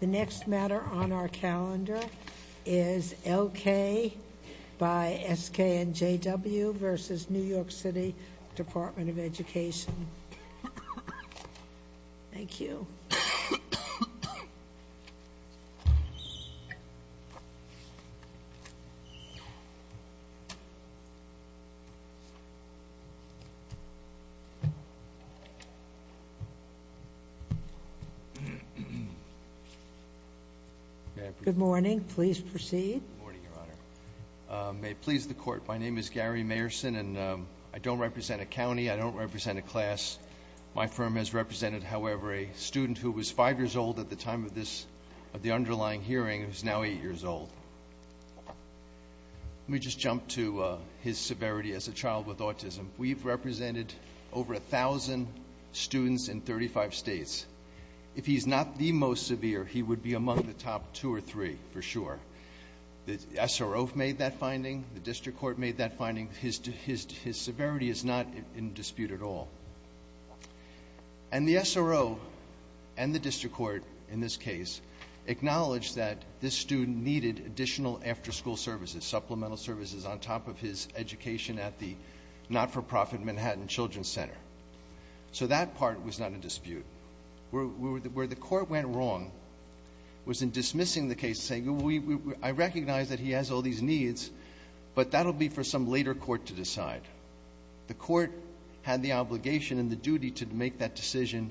The next matter on our calendar is L.K. by S.K. and J.W. v. New York City Department of Education. Thank you. Good morning. Please proceed. May it please the Court, my name is Gary Mayerson, and I don't represent a county, I don't represent a class. My firm has represented, however, a student who was five years old at the time of this, of the underlying hearing, who's now eight years old. Let me just jump to his severity as a child with autism. We've represented over a thousand students in 35 states. If he's not the most severe, he would be among the top two or three for sure. The SRO made that finding, his severity is not in dispute at all. And the SRO and the District Court, in this case, acknowledged that this student needed additional after-school services, supplemental services on top of his education at the not-for-profit Manhattan Children's Center. So that part was not in dispute. Where the Court went wrong was in dismissing the case, saying, I recognize that he has all these needs, but that'll be for some later court to decide. The Court had the obligation and the duty to make that decision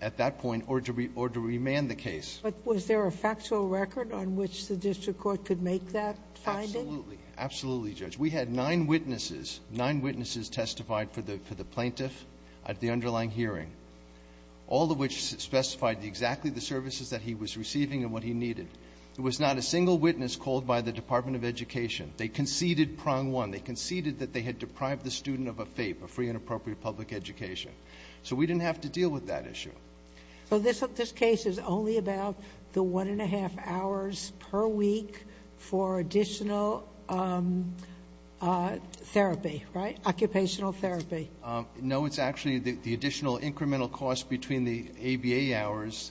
at that point or to remand the case. But was there a factual record on which the District Court could make that finding? Absolutely. Absolutely, Judge. We had nine witnesses, nine witnesses testified for the plaintiff at the underlying hearing, all of which specified exactly the services that he needed. There was not a single witness called by the Department of Education. They conceded prong one. They conceded that they had deprived the student of a FAPE, a free and appropriate public education. So we didn't have to deal with that issue. So this case is only about the one and a half hours per week for additional therapy, right? Occupational therapy. No, it's actually the additional incremental cost between the ABA hours.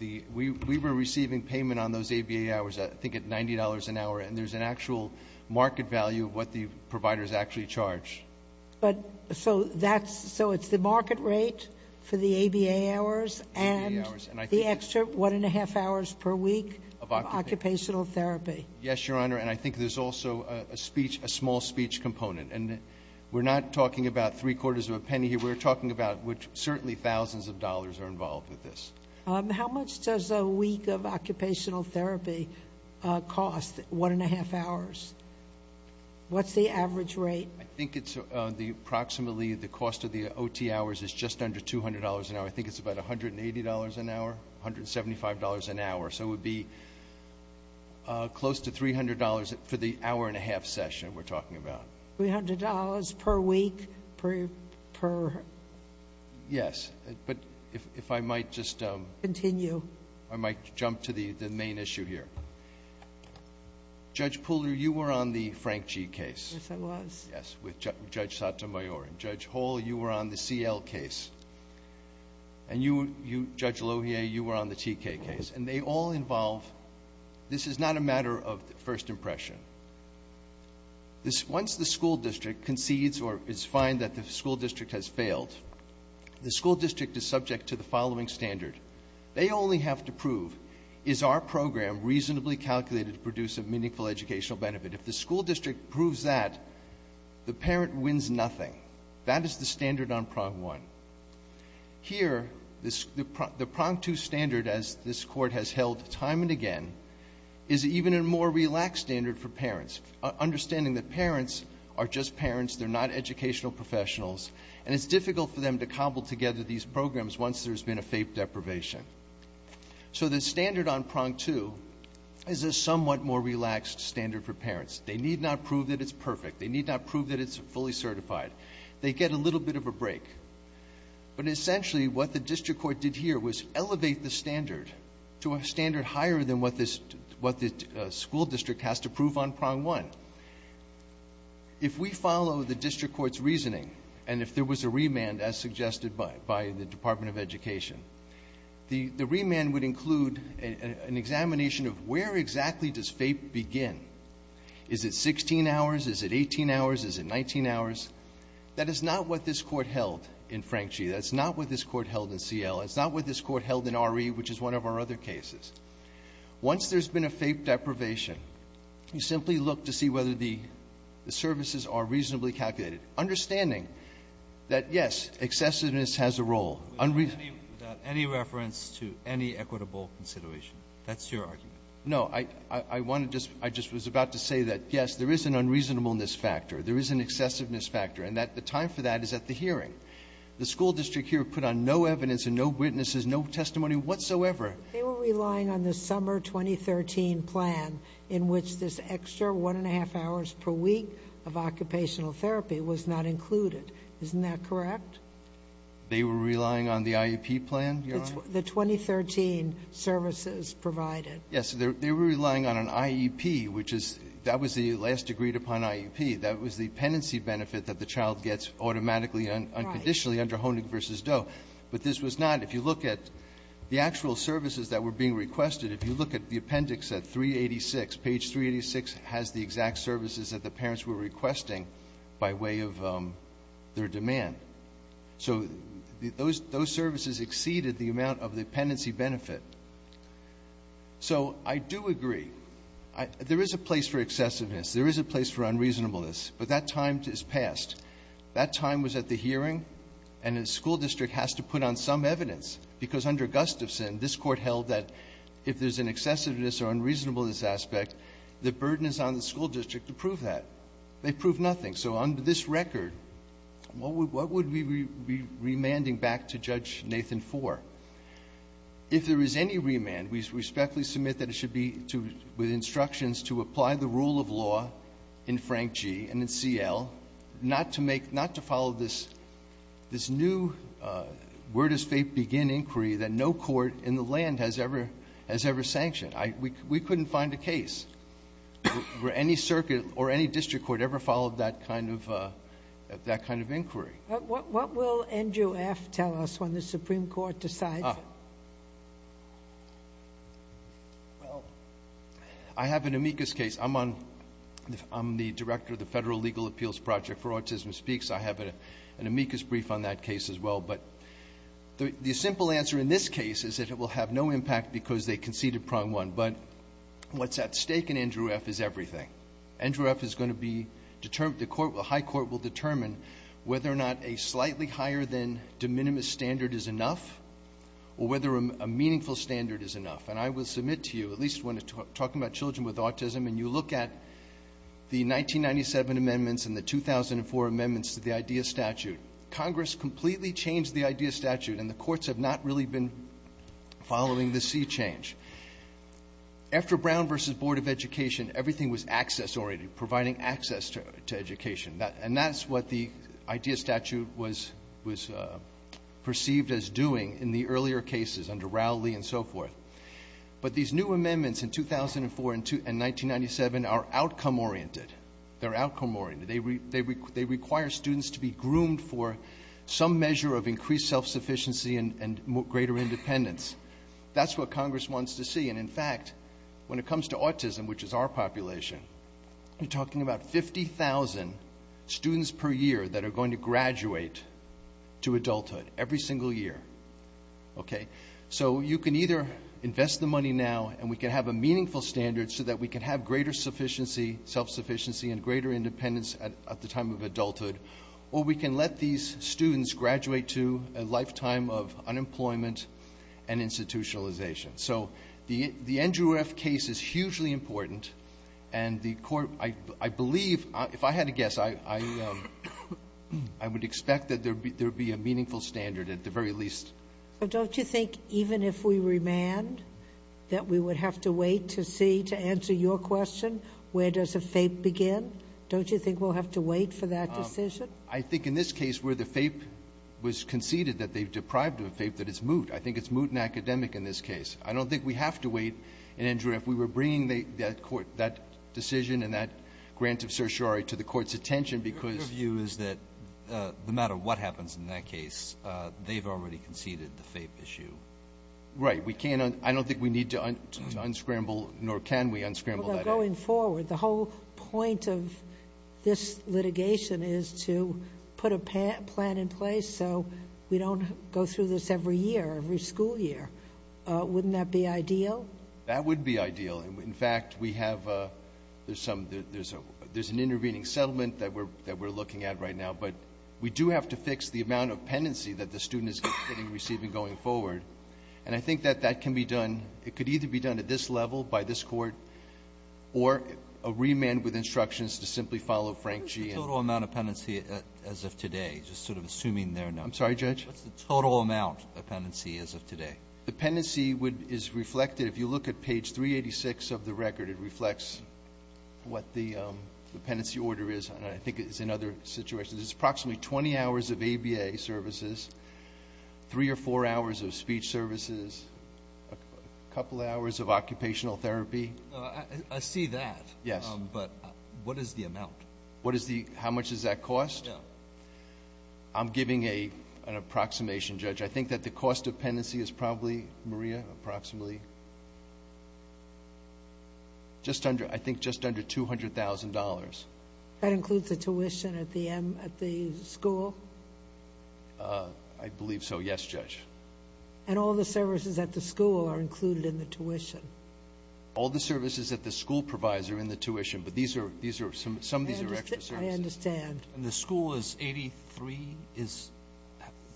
We were receiving payment on those ABA hours, I think at $90 an hour, and there's an actual market value of what the providers actually charge. But so that's, so it's the market rate for the ABA hours and the extra one and a half hours per week of occupational therapy. Yes, Your Honor. And I think there's also a speech, a small speech component. And we're not talking about three quarters of a penny here. We're talking about certainly thousands of dollars are involved with this. How much does a week of occupational therapy cost, one and a half hours? What's the average rate? I think it's approximately, the cost of the OT hours is just under $200 an hour. I think it's about $180 an hour, $175 an hour. So it would be close to $300 for the hour and a half session we're talking about. $300 per week per... Yes, but if I might just... Continue. I might jump to the main issue here. Judge Pooler, you were on the Frank G case. Yes, I was. Yes, with Judge Sotomayor. And Judge Hall, you were on the CL case. And you, Judge Lohier, you were on the TK case. And they all involve, this is not a matter of first impression. Once the school district concedes or is fined that the school district has failed, the school district is subject to the following standard. They only have to prove, is our program reasonably calculated to produce a meaningful educational benefit? If the school district proves that, the parent wins nothing. That is the standard on prong one. Here, the prong two standard, as this Court has held time and again, is even a more relaxed standard for parents. Understanding that parents are just parents. They're not educational professionals. And it's difficult for them to cobble together these programs once there's been a faith deprivation. So the standard on prong two is a somewhat more relaxed standard for parents. They need not prove that it's perfect. They need not prove that it's fully certified. They get a little bit of a break. But essentially, what the district court did here was elevate the standard to a standard higher than what this, what the school district has to prove on prong one. If we follow the district court's reasoning, and if there was a remand as suggested by the Department of Education, the remand would include an examination of where exactly does FAPE begin. Is it 16 hours? Is it 18 hours? Is it 19 hours? That is not what this Court held in Frank 3, which is one of our other cases. Once there's been a FAPE deprivation, you simply look to see whether the services are reasonably calculated, understanding that, yes, excessiveness has a role. Unreasonable. Breyer, without any reference to any equitable consideration. That's your argument. No. I want to just – I just was about to say that, yes, there is an unreasonableness factor. There is an excessiveness factor. And that the time for that is at the hearing. The school district here put on no evidence and no witnesses, no testimony whatsoever. They were relying on the summer 2013 plan in which this extra one and a half hours per week of occupational therapy was not included. Isn't that correct? They were relying on the IEP plan, Your Honor? The 2013 services provided. Yes. They were relying on an IEP, which is – that was the last agreed upon IEP. That was the penancy benefit that the child gets automatically and unconditionally under Honig v. Doe. But this was not – if you look at the actual services that were being requested, if you look at the appendix at 386, page 386 has the exact services that the parents were requesting by way of their demand. So those services exceeded the amount of the penancy benefit. So I do agree. There is a place for excessiveness. There is a place for unreasonableness. But that time is past. That time was at the hearing. And the school district has to put on some evidence, because under Gustafson, this Court held that if there's an excessiveness or unreasonableness aspect, the burden is on the school district to prove that. They proved nothing. So under this record, what would we be remanding back to Judge Nathan for? If there is any remand, we respectfully submit that it should be to – with instructions to apply the rule of law in Frank G. and in C.L., not to make – not to follow this new where-does-fate-begin inquiry that no court in the land has ever sanctioned. We couldn't find a case where any circuit or any district court ever followed that kind of inquiry. What will NJUF tell us when the Supreme Court decides? I have an amicus case. I'm on – I'm the director of the Federal Legal Appeals Project for Autism Speaks. I have an amicus brief on that case as well. But the simple answer in this case is that it will have no impact because they conceded prong one. But what's at stake in NJUF is everything. NJUF is going to be determined – the court – the high court will determine whether or not a slightly higher than de minimis standard is enough or whether a meaningful standard is enough. And I will submit to you, at least when talking about children with autism, and you look at the 1997 amendments and the 2004 amendments to the IDEA statute, Congress completely changed the IDEA statute and the courts have not really been following the sea change. After Brown v. Board of Education, everything was access-oriented, providing access to education. And that's what the IDEA statute was perceived as doing in the earlier cases under Rowley and so forth. But these new amendments in 2004 and 1997 are outcome-oriented. They're outcome-oriented. They require students to be groomed for some measure of increased self-sufficiency and greater independence. That's what Congress wants to see. And in fact, when it comes to autism, which is our population, we're talking about 50,000 students per year that are going to graduate to adulthood every single year. Okay? So you can either invest the money now and we can have a meaningful standard so that we can have greater self-sufficiency and greater independence at the time of adulthood, or we can let these students graduate to a lifetime of unemployment and institutionalization. So the Andrew F. case is hugely important. And the court, I believe, if I had to guess, I would expect that there would be a meaningful standard at the very least. But don't you think even if we remand, that we would have to wait to see, to answer your question, where does a FAPE begin? Don't you think we'll have to wait for that decision? I think in this case where the FAPE was conceded that they've deprived of a FAPE, that it's moot. I think it's moot and academic in this case. I don't think we have to wait. And, Andrew, if we were bringing that court, that decision and that grant of certiorari to the court's attention because Your view is that no matter what happens in that case, they've already conceded the FAPE issue. Right. We can't, I don't think we need to unscramble, nor can we unscramble that. Going forward, the whole point of this litigation is to put a plan in place so we don't go through this every year, every school year. Wouldn't that be ideal? That would be ideal. In fact, we have, there's some, there's an intervening settlement that we're looking at right now. But we do have to fix the amount of penancy that the student is going to be receiving going forward. And I think that that can be done, it could either be done at this level by this court or a remand with instructions to simply follow Frank G. And the total amount of penancy as of today, just sort of assuming they're not. I'm sorry, Judge. What's the total amount of penancy as of today? The penancy would, is reflected, if you look at page 386 of the record, it reflects what the, the penancy order is. And I think it's in other situations. It's approximately 20 hours of ABA services, three or four hours of speech services, a couple hours of occupational therapy. I see that. Yes. But what is the amount? What is the, how much does that cost? Yeah. I'm giving a, an approximation, Judge. I think that the cost of penancy is probably, Maria, approximately, just under, I think just under $200,000. That includes the tuition at the M, at the school? I believe so. Yes, Judge. And all the services at the school are included in the tuition? All the services that the school provides are in the tuition. But these are, these are some, some of these are extra services. I understand. And the school is 83 is,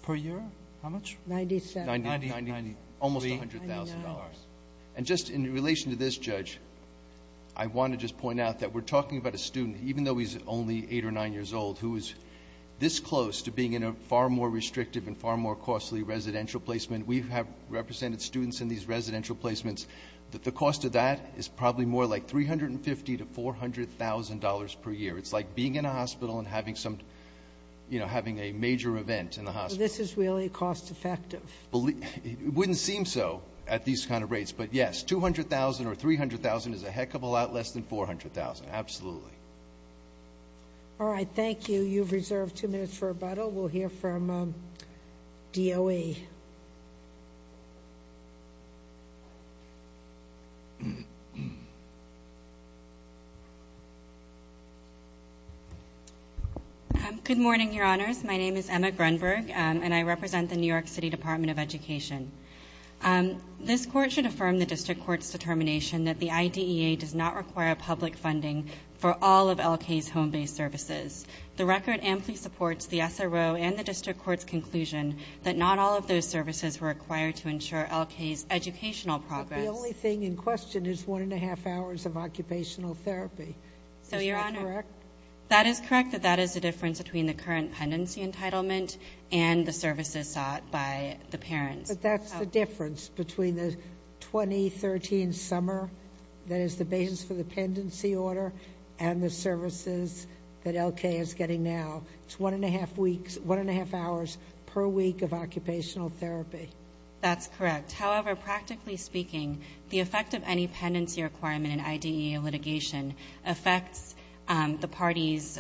per year? How much? Ninety-seven. Ninety, ninety, ninety-three. Almost $100,000. And just in relation to this, Judge, I want to just point out that we're talking about a student, even though he's only eight or nine years old, who is this close to being in a far more restrictive and far more costly residential placement. We have represented students in these residential placements. The cost of that is probably more like $350,000 to $400,000 per year. It's like being in a hospital and having some, you know, having a major event in the hospital. So this is really cost effective? It wouldn't seem so at these kind of rates. But yes, $200,000 or $300,000 is a heck of a lot less than $400,000. Absolutely. All right. Thank you. You've reserved two minutes for rebuttal. We'll hear from DOE. Good morning, Your Honors. My name is Emma Grunberg, and I represent the New York City Department of Education. This court should affirm the district court's determination that the IDEA does not require public funding for all of L.K.'s home-based services. The record amply supports the SRO and the district court's conclusion that not all of those services were required to ensure L.K.'s educational progress. But the only thing in question is one and a half hours of occupational therapy. So, Your Honor, that is correct that that is the difference between the current pendency entitlement and the services sought by the parents. But that's the difference between the 2013 summer that is the basis for the pendency order and the services that L.K. is getting now. It's one and a half weeks, one and a half hours per week of occupational therapy. That's correct. However, practically speaking, the effect of any pendency requirement in IDEA litigation affects the party's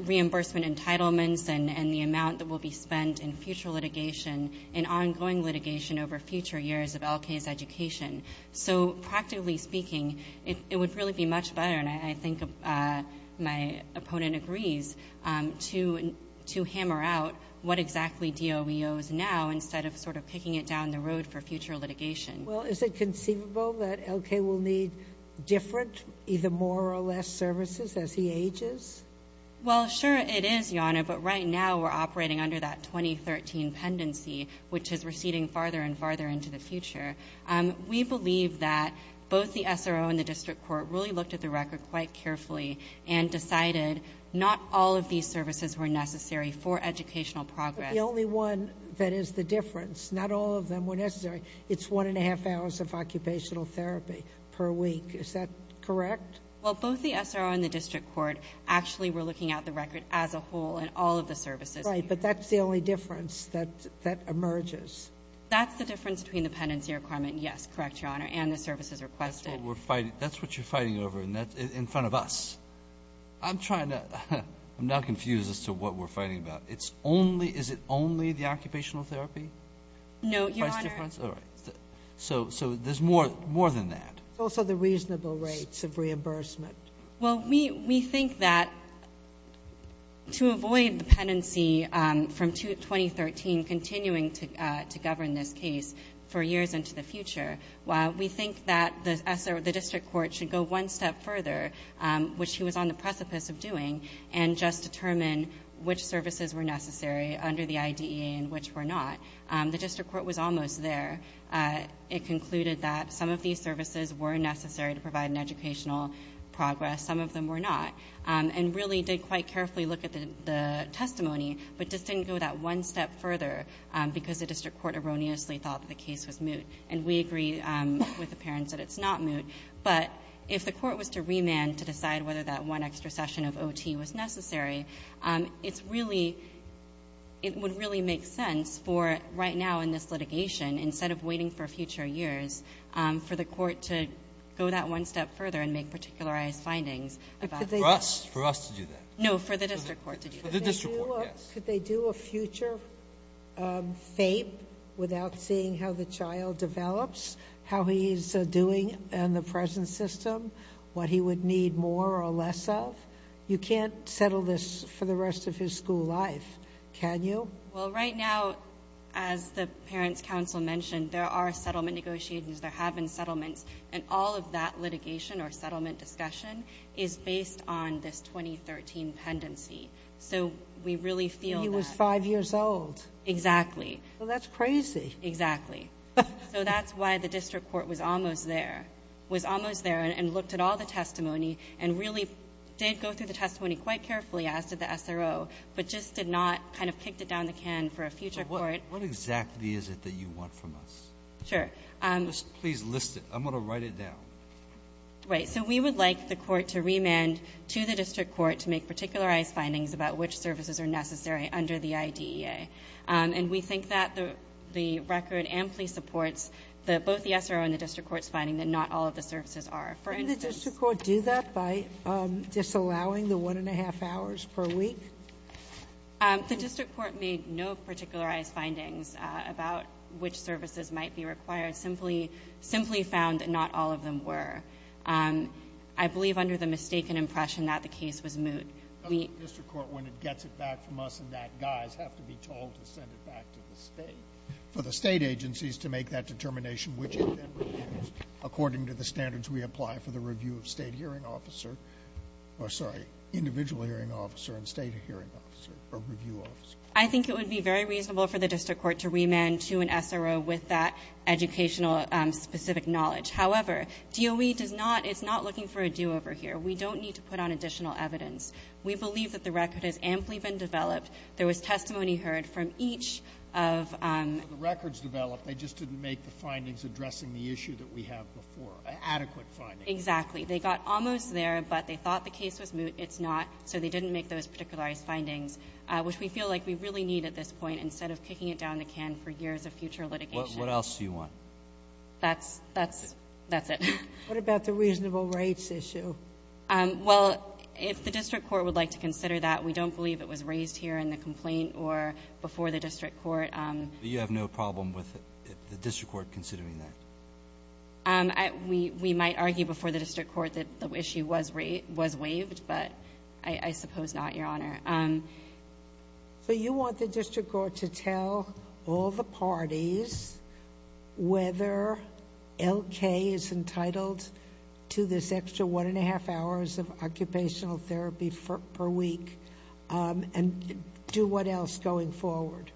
reimbursement entitlements and the amount that will be spent in future litigation and ongoing litigation over future years of L.K.'s education. So, practically speaking, it would really be much better, and I think my opponent agrees, to hammer out what exactly DOE owes now instead of sort of kicking it down the road for future litigation. Well, is it conceivable that L.K. will need different, either more or less, services as he ages? Well, sure it is, Your Honor, but right now we're operating under that 2013 pendency, which is receding farther and farther into the future. We believe that both the SRO and the district court really looked at the record quite carefully and decided not all of these services were necessary for educational progress. But the only one that is the difference, not all of them were necessary, it's one and a half hours of occupational therapy per week. Is that correct? Well, both the SRO and the district court actually were looking at the record as a whole in all of the services. Right, but that's the only difference that emerges. That's the difference between the pendency requirement, yes, correct, Your Honor, and the services requested. That's what you're fighting over in front of us. I'm trying to... I'm now confused as to what we're fighting about. Is it only the occupational therapy? No, Your Honor. Price difference? All right. So, there's more than that. It's also the reasonable rates of reimbursement. Well, we think that to avoid the pendency from 2013 continuing to govern this case for years into the future, we think that the district court should go one step further, which he was on the precipice of doing, and just determine which services were necessary under the IDEA and which were not. The district court was almost there. It concluded that some of these services were necessary to provide an educational progress. Some of them were not, and really did quite carefully look at the testimony, but just didn't go that one step further because the district court erroneously thought that the case was moot. And we agree with the parents that it's not moot. But if the court was to remand to decide whether that one extra session of OT was necessary, it would really make sense for right now in this litigation, instead of waiting for future years, for the court to go that one step further and make particularized findings. For us to do that? No, for the district court to do that. For the district court, yes. Could they do a future FAPE without seeing how the child develops, how he's doing in the present system, what he would need more or less of? You can't settle this for the rest of his school life, can you? Well, right now, as the parents' counsel mentioned, there are settlement negotiations. There have been settlements. And all of that litigation or settlement discussion is based on this 2013 pendency. So we really feel that. He was five years old. Exactly. Well, that's crazy. Exactly. So that's why the district court was almost there. Was almost there and looked at all the testimony and really did go through the testimony quite carefully, as did the SRO, but just did not kind of kicked it down the can for a future court. What exactly is it that you want from us? Sure. Please list it. I'm going to write it down. Right. So we would like the court to remand to the district court to make particularized findings about which services are necessary under the IDEA. And we think that the record amply supports both the SRO and the district court's finding that not all of the services are. For instance... Can the district court do that by disallowing the one and a half hours per week? The district court made no particularized findings about which services might be required. Simply found that not all of them were. I believe under the mistaken impression that the case was moot. Doesn't the district court, when it gets it back from us in that guise, have to be told to send it back to the state for the state agencies to make that determination which it then reviews according to the standards we apply for the review of state hearing officer, or sorry, individual hearing officer and state hearing officer or review officer? I think it would be very reasonable for the district court to remand to an SRO with that educational specific knowledge. However, DOE does not, it's not looking for a do-over here. We don't need to put on additional evidence. We believe that the record has amply been developed. There was testimony heard from each of... The records developed, they just didn't make the findings addressing the issue that we have before. Adequate findings. Exactly. They got almost there, but they thought the case was moot. It's not. So they didn't make those particularized findings which we feel like we really need at this point instead of kicking it down the can for years of future litigation. What else do you want? That's it. What about the reasonable rates issue? Well, if the district court would like to consider that, we don't believe it was raised here in the complaint or before the district court. But you have no problem with the district court considering that? We might argue before the district court that the issue was waived, but I suppose not, Your Honor. So you want the district court to tell all the parties whether L.K. is entitled to this extra one and a half hours of occupational therapy per week and do what else going forward?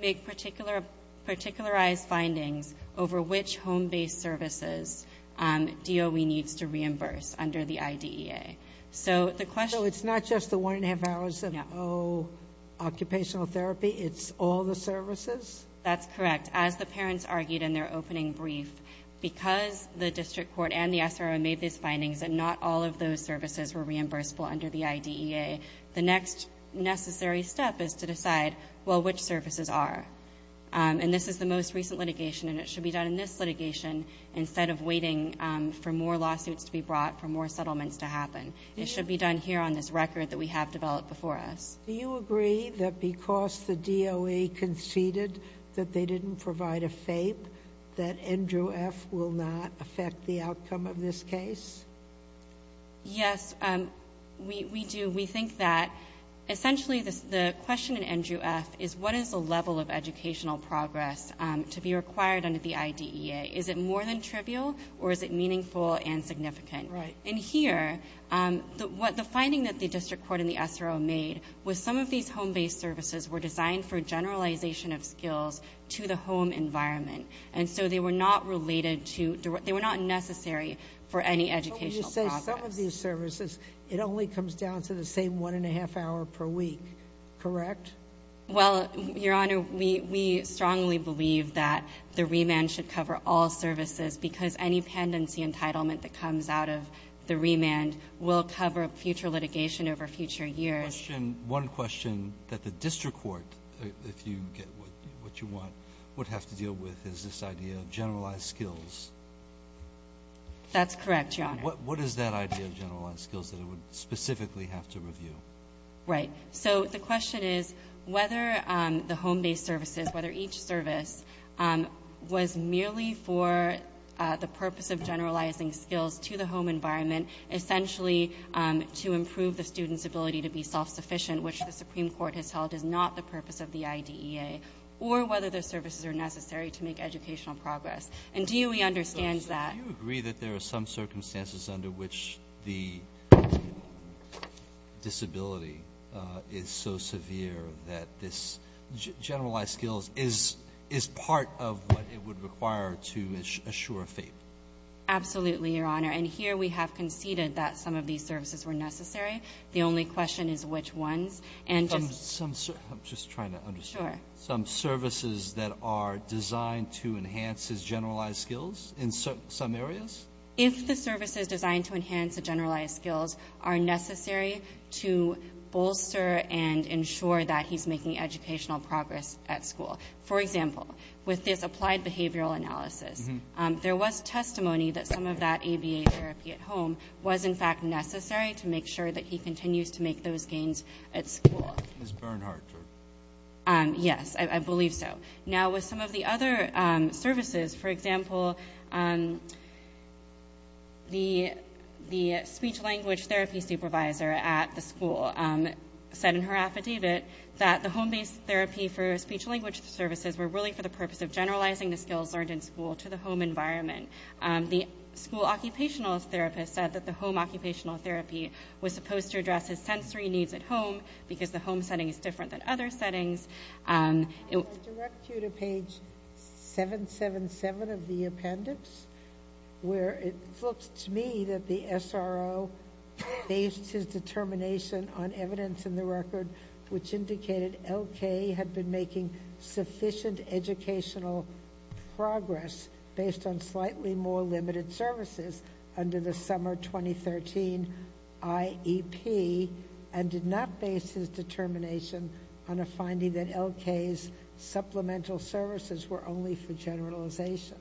Make particularized findings over which home-based services DOE needs to reimburse under the IDEA. So it's not just the one and a half hours of occupational therapy? It's all the services? That's correct. As the parents argued in their opening brief, because the district court and the SRO made these findings that not all of those services were reimbursable under the IDEA, the next necessary step is to decide, well, which services are? And this is the most recent litigation and it should be done in this litigation instead of waiting for more lawsuits to be brought, for more settlements to happen. It should be done here on this record that we have developed before us. Do you agree that because the DOE conceded that they didn't provide a FAPE, that NJUF will not affect the outcome of this case? Yes, we do. We think that essentially the question in NJUF is what is the level of educational progress to be required under the IDEA? Is it more than trivial or is it meaningful and significant? Right. And here, the finding that the district court and the SRO made was some of these home-based services were designed for generalization of skills to the home environment. And so they were not related to, they were not necessary for any educational progress. So when you say some of these services, it only comes down to the same one and a half hour per week. Correct? Well, Your Honor, we strongly believe that the remand should cover all services because any pendency entitlement that comes out of the remand will cover future litigation over future years. One question that the district court, if you get what you want, would have to deal with is this idea of generalized skills. That's correct, Your Honor. What is that idea of generalized skills that it would specifically have to review? Right. So the question is whether the home-based services, whether each service was merely for the purpose of generalizing skills to the home environment essentially to improve the student's ability to be self-sufficient, which the Supreme Court has held is not the purpose of the IDEA, or whether those services are necessary to make educational progress. And do we understand that? So do you agree that there are some circumstances under which the disability is so severe that this generalized skills is part of what it would require to assure faith? Absolutely, Your Honor. And here we have conceded that some of these services were necessary. The only question is which ones. I'm just trying to understand. Some services that are designed to enhance his generalized skills in some areas? If the services designed to enhance the generalized skills are necessary to bolster and ensure that he's making educational progress at school. For example, with this Applied Behavioral Analysis, there was testimony that some of that ABA therapy at home was in fact necessary to make sure that he continues to make those gains at school. Is Bernhardt true? Yes, I believe so. Now with some of the other services, for example, the speech-language therapy supervisor at the school said in her affidavit that the home-based therapy for speech-language services were really for the purpose of generalizing the skills learned in school to the home environment. The school occupational therapist said that the home occupational therapy was supposed to address his sensory needs at home because the home setting is different than other settings. I direct you to page 777 of the appendix where it looks to me that the SRO based his determination on evidence in the record which indicated L.K. had been making sufficient educational progress based on slightly more limited services under the summer 2013 IEP and did not base his determination on a finding that L.K.'s supplemental services were only for generalization.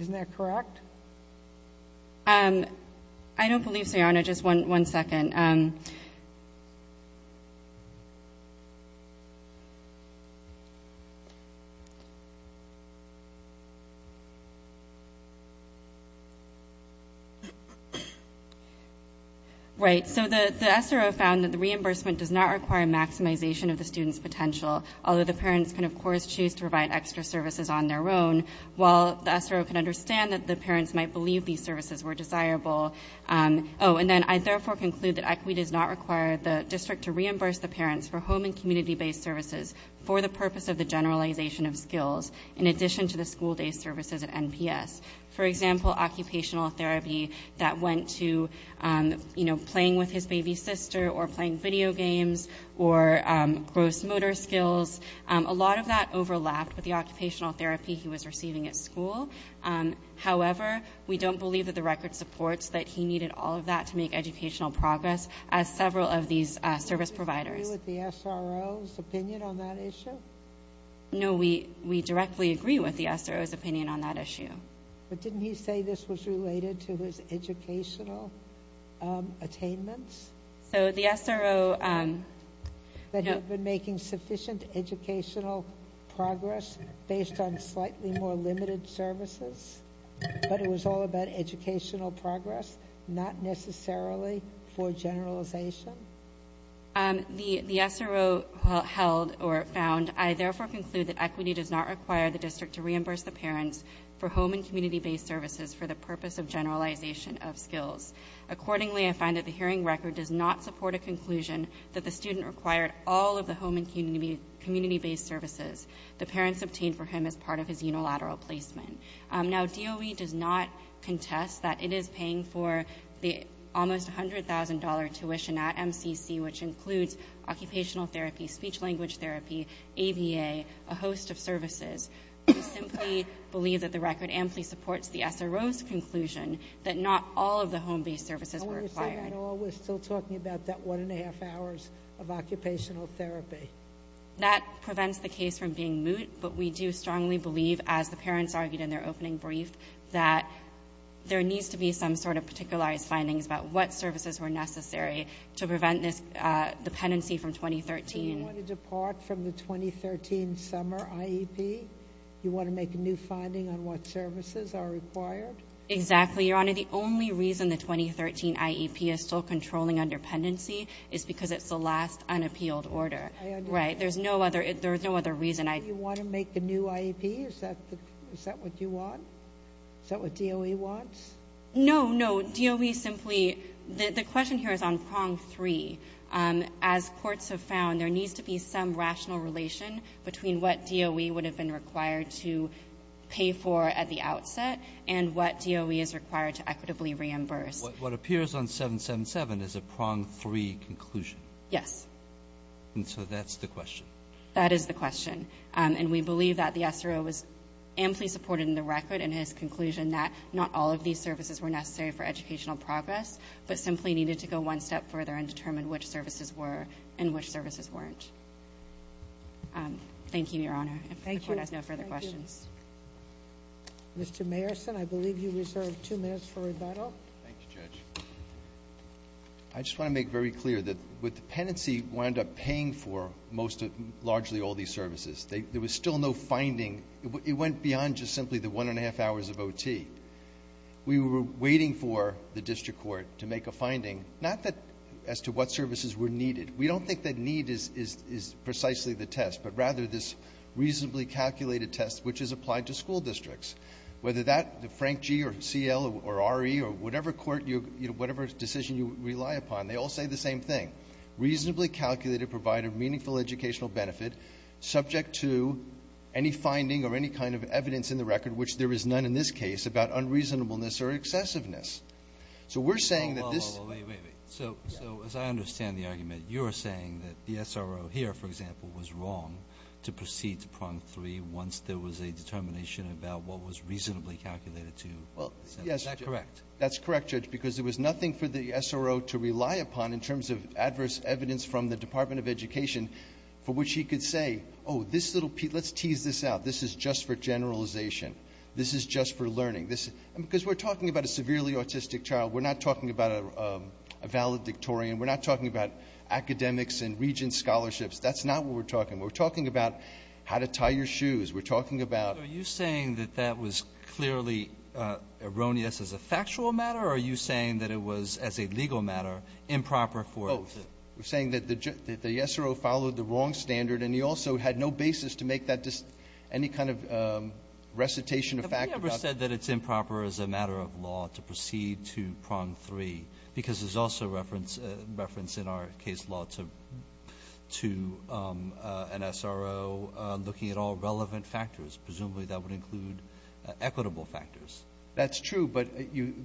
Isn't that correct? I don't believe so, Yana. Just one second. Right. So the SRO found that the reimbursement does not require maximization of the student's potential, although the parents can of course choose to provide extra services on their own, while the SRO can understand that the parents might believe these services were desirable. Oh, and then I therefore conclude that EQUI does not require the district to reimburse the parents for home and community based services for the purpose of the generalization of skills, in addition to the school day services at NPS. For example, occupational therapy that went to playing with his baby sister or playing video games or gross motor skills. A lot of that overlapped with the occupational therapy he was receiving at school. However, we don't believe that the record supports that he needed all of that to make educational progress as several of these service providers. Do you agree with the SRO's opinion on that issue? No, we directly agree with the SRO's opinion on that issue. But didn't he say this was related to his educational attainments? So the SRO... That he had been making sufficient educational progress based on slightly more limited services? But it was all about educational progress, not necessarily for generalization? The SRO held or found I therefore conclude that EQUI does not require the district to reimburse the parents for home and community based services for the purpose of generalization of skills. Accordingly, I find that the hearing record does not support a conclusion that the student required all of the home and community based services the parents obtained for him as part of his unilateral placement. Now, DOE does not contest that it is paying for the almost $100,000 tuition at MCC, which includes occupational therapy, speech language therapy, ABA, a host of services. We simply believe that the record amply supports the SRO's conclusion that not all of the home based services were required. We're still talking about that one and a half hours of occupational therapy. That prevents the case from being moot, but we do strongly believe as the parents argued in their opening brief that there needs to be some sort of particularized findings about what services were necessary to prevent this dependency from 2013. So you want to depart from the 2013 summer IEP? You want to make a new finding on what services are required? Exactly, Your Honor. The only reason the 2013 IEP is still controlling underpendency is because it's the last unappealed order. There's no other reason. You want to make the new IEP? Is that what you want? Is that what DOE wants? No, no. DOE simply the question here is on prong three. As courts have found, there needs to be some rational relation between what DOE would have been required to pay for at the outset and what DOE is required to equitably reimburse. What appears on 777 is a prong three conclusion? Yes. And so that's the question? That is the question. And we believe that the SRO was amply supported in the record in his conclusion that not all of these services were necessary for educational progress, but simply needed to go one step further and determine which services were and which services weren't. Thank you, Your Honor. If the Court has no further questions. Mr. Mayerson, I believe you reserved two minutes for rebuttal. Thank you, Judge. I just want to make very clear that with the penancy wound up paying for largely all these services. There was still no finding. It went beyond just simply the one and a half hours of OT. We were waiting for the District Court to make a finding, not as to what services were needed. We don't think that need is precisely the test, but rather this reasonably calculated test which is applied to school districts. Whether that, the Frank G., or C.L., or R.E., or whatever decision you rely upon, they all say the same thing. Reasonably calculated provided meaningful educational benefit subject to any finding or any kind of evidence in the record which there is none in this case about unreasonableness or excessiveness. So we're saying that this... So as I understand the argument, you're saying that the SRO here, for example, was wrong to proceed to Prong 3 once there was a determination about what was reasonably calculated to... Is that correct? That's correct, Judge, because there was nothing for the SRO to rely upon in terms of adverse evidence from the Department of Education for which he could say, oh, this little piece, let's tease this out. This is just for generalization. This is just for learning. Because we're talking about a severely autistic child. We're not talking about a valedictorian. We're not talking about academics and regent scholarships. That's not what we're talking about. We're talking about how to tie your shoes. We're talking about... Are you saying that that was clearly erroneous as a factual matter, or are you saying that it was, as a legal matter, improper for... Oh. We're saying that the SRO followed the wrong standard and he also had no basis to make that any kind of recitation of fact about... Have you ever said that it's improper as a matter of law to proceed to Prong 3? Because there's also reference in our case law to an SRO looking at all relevant factors. Presumably that would include equitable factors. That's true, but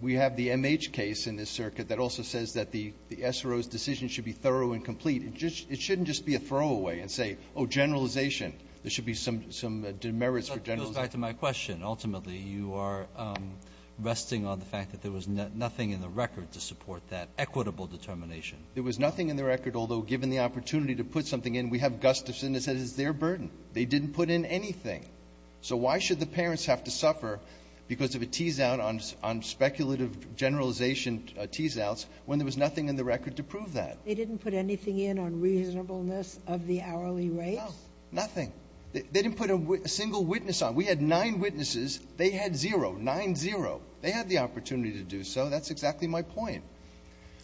we have the MH case in this circuit that also says that the SRO's decision should be thorough and complete. It shouldn't just be a throwaway and say, oh, generalization. There should be some demerits for generalization. That goes back to my question. Ultimately, you are resting on the fact that there was nothing in the record to support that equitable determination. There was nothing in the record, although, given the opportunity to put something in, we have Gustafson that says it's their burden. They didn't put in anything. So why should the parents have to suffer because of a tease-out on speculative generalization tease-outs when there was nothing in the record to prove that? They didn't put anything in on reasonableness of the hourly rates? No. Nothing. They didn't put a single witness on. We had nine witnesses. They had zero. Nine-zero. They had the opportunity to do so. That's exactly my point.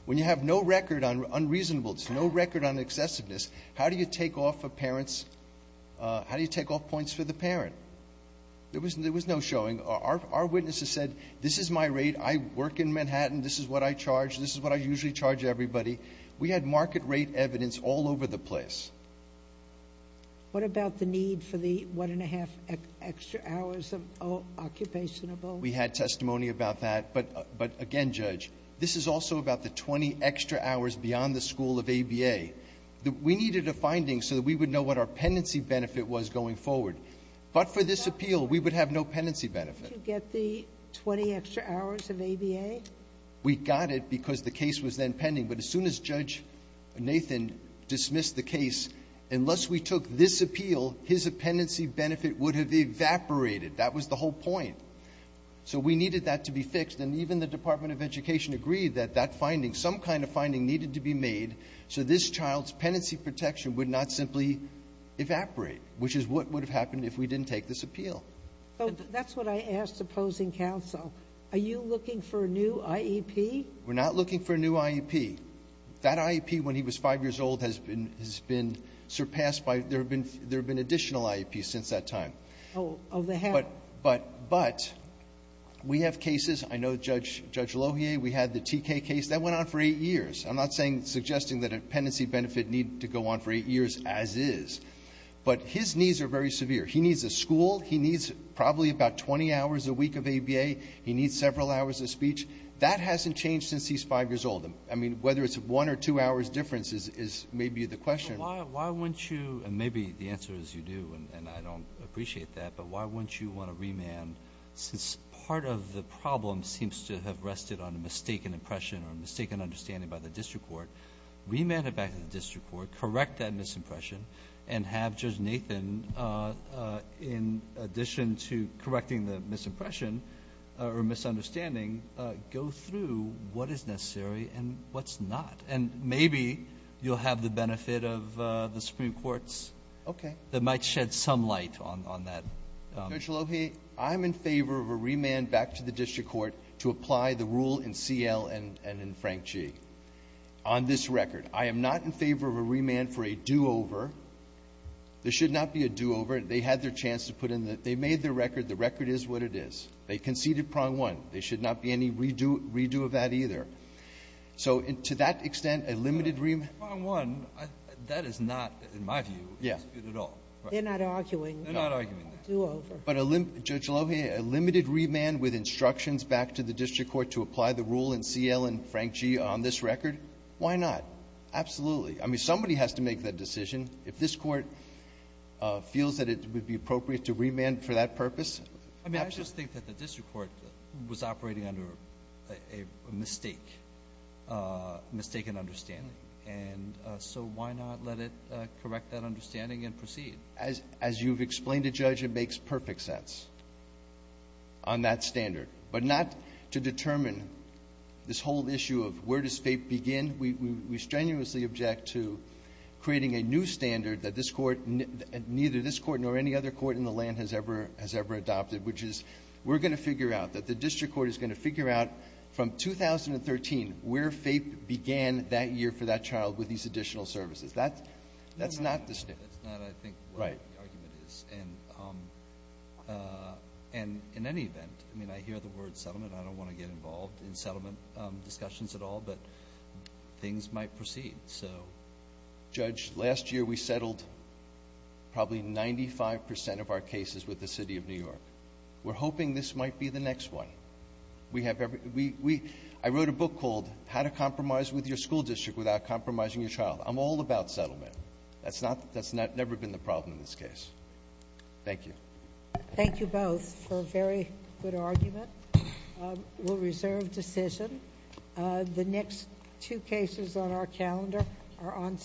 When you have no record on reasonableness, no record on excessiveness, how do you take off points for the parent? There was no showing. Our witnesses said, this is my rate. I work in Manhattan. This is what I charge. This is what I usually charge everybody. We had market-rate evidence all over the place. What about the need for the one-and-a-half extra hours of occupation? We had testimony about that. But again, Judge, this is also about the 20 extra hours beyond the school of ABA. We needed a finding so that we would know what our pendency benefit was going forward. But for this appeal, we would have no pendency benefit. Did you get the 20 extra hours of ABA? We got it because the case was then pending. But as soon as Judge Nathan dismissed the case, unless we took this appeal, his appendency benefit would have evaporated. That was the whole point. So we needed that to be fixed. And even the Department of Education agreed that that finding, some kind of finding, needed to be made so this child's pendency protection would not simply evaporate, which is what would have happened if we didn't take this appeal. That's what I asked opposing counsel. Are you looking for a new IEP? We're not looking for a new IEP. That IEP, when he was five years old, has been surpassed by, there have been additional IEPs since that time. But we have cases, I know Judge Lohier, we had the TK case, that went on for eight years. I'm not suggesting that a pendency benefit need to go on for eight years as is. But his needs are very severe. He needs a school, he needs probably about 20 hours a week of ABA, he needs several hours of speech. That hasn't changed since he's five years old. I mean, whether it's one or two hours difference is maybe the question. Why wouldn't you, and maybe the answer is you do and I don't appreciate that, but why wouldn't you want to remand since part of the problem seems to have rested on a mistaken impression or a mistaken understanding by the district court, remand it back to the district court, correct that misimpression and have Judge Nathan in addition to correcting the misimpression or misunderstanding, go through what is necessary and what's not. And maybe you'll have the benefit of the Supreme Court's that might shed some light on that. Judge Lohier, I'm in favor of a remand back to the district court to apply the rule in CL and in Frank G. On this record, I am not in favor of a remand for a do-over. There should not be a do-over. They had their chance to put in the, they made their record. The record is what it is. They conceded prong one. There should not be any redo of that either. So to that extent, a limited remand Prong one, that is not in my view, good at all. They're not arguing. But Judge Lohier, a limited remand with instructions back to the district court to apply the rule in CL and Frank G. on this record, why not? Absolutely. Somebody has to make that decision. If this court feels that it would be appropriate to remand for that purpose I just think that the district court was operating under a mistake mistaken understanding. So why not let it correct that understanding and proceed? As you've explained to Judge, it makes perfect sense on that standard. But not to determine this whole issue of where does fate begin. We strenuously object to creating a new standard that this court neither this court nor any other court in the land has ever adopted which is we're going to figure out that the district court is going to figure out from 2013 where fate began that year for that child with these additional services. That's not the statement. Right. And in any event I mean I hear the word settlement I don't want to get involved in settlement discussions at all but things might proceed. Judge, last year we settled probably 95% of our cases with the City of New York. We're hoping this might be the next one. I wrote a book called How to Compromise with Your School District Without Compromising Your Child I'm all about settlement. That's never been the problem in this case. Thank you. Thank you both for a very good argument. We'll reserve decision. The next two cases on our calendar are on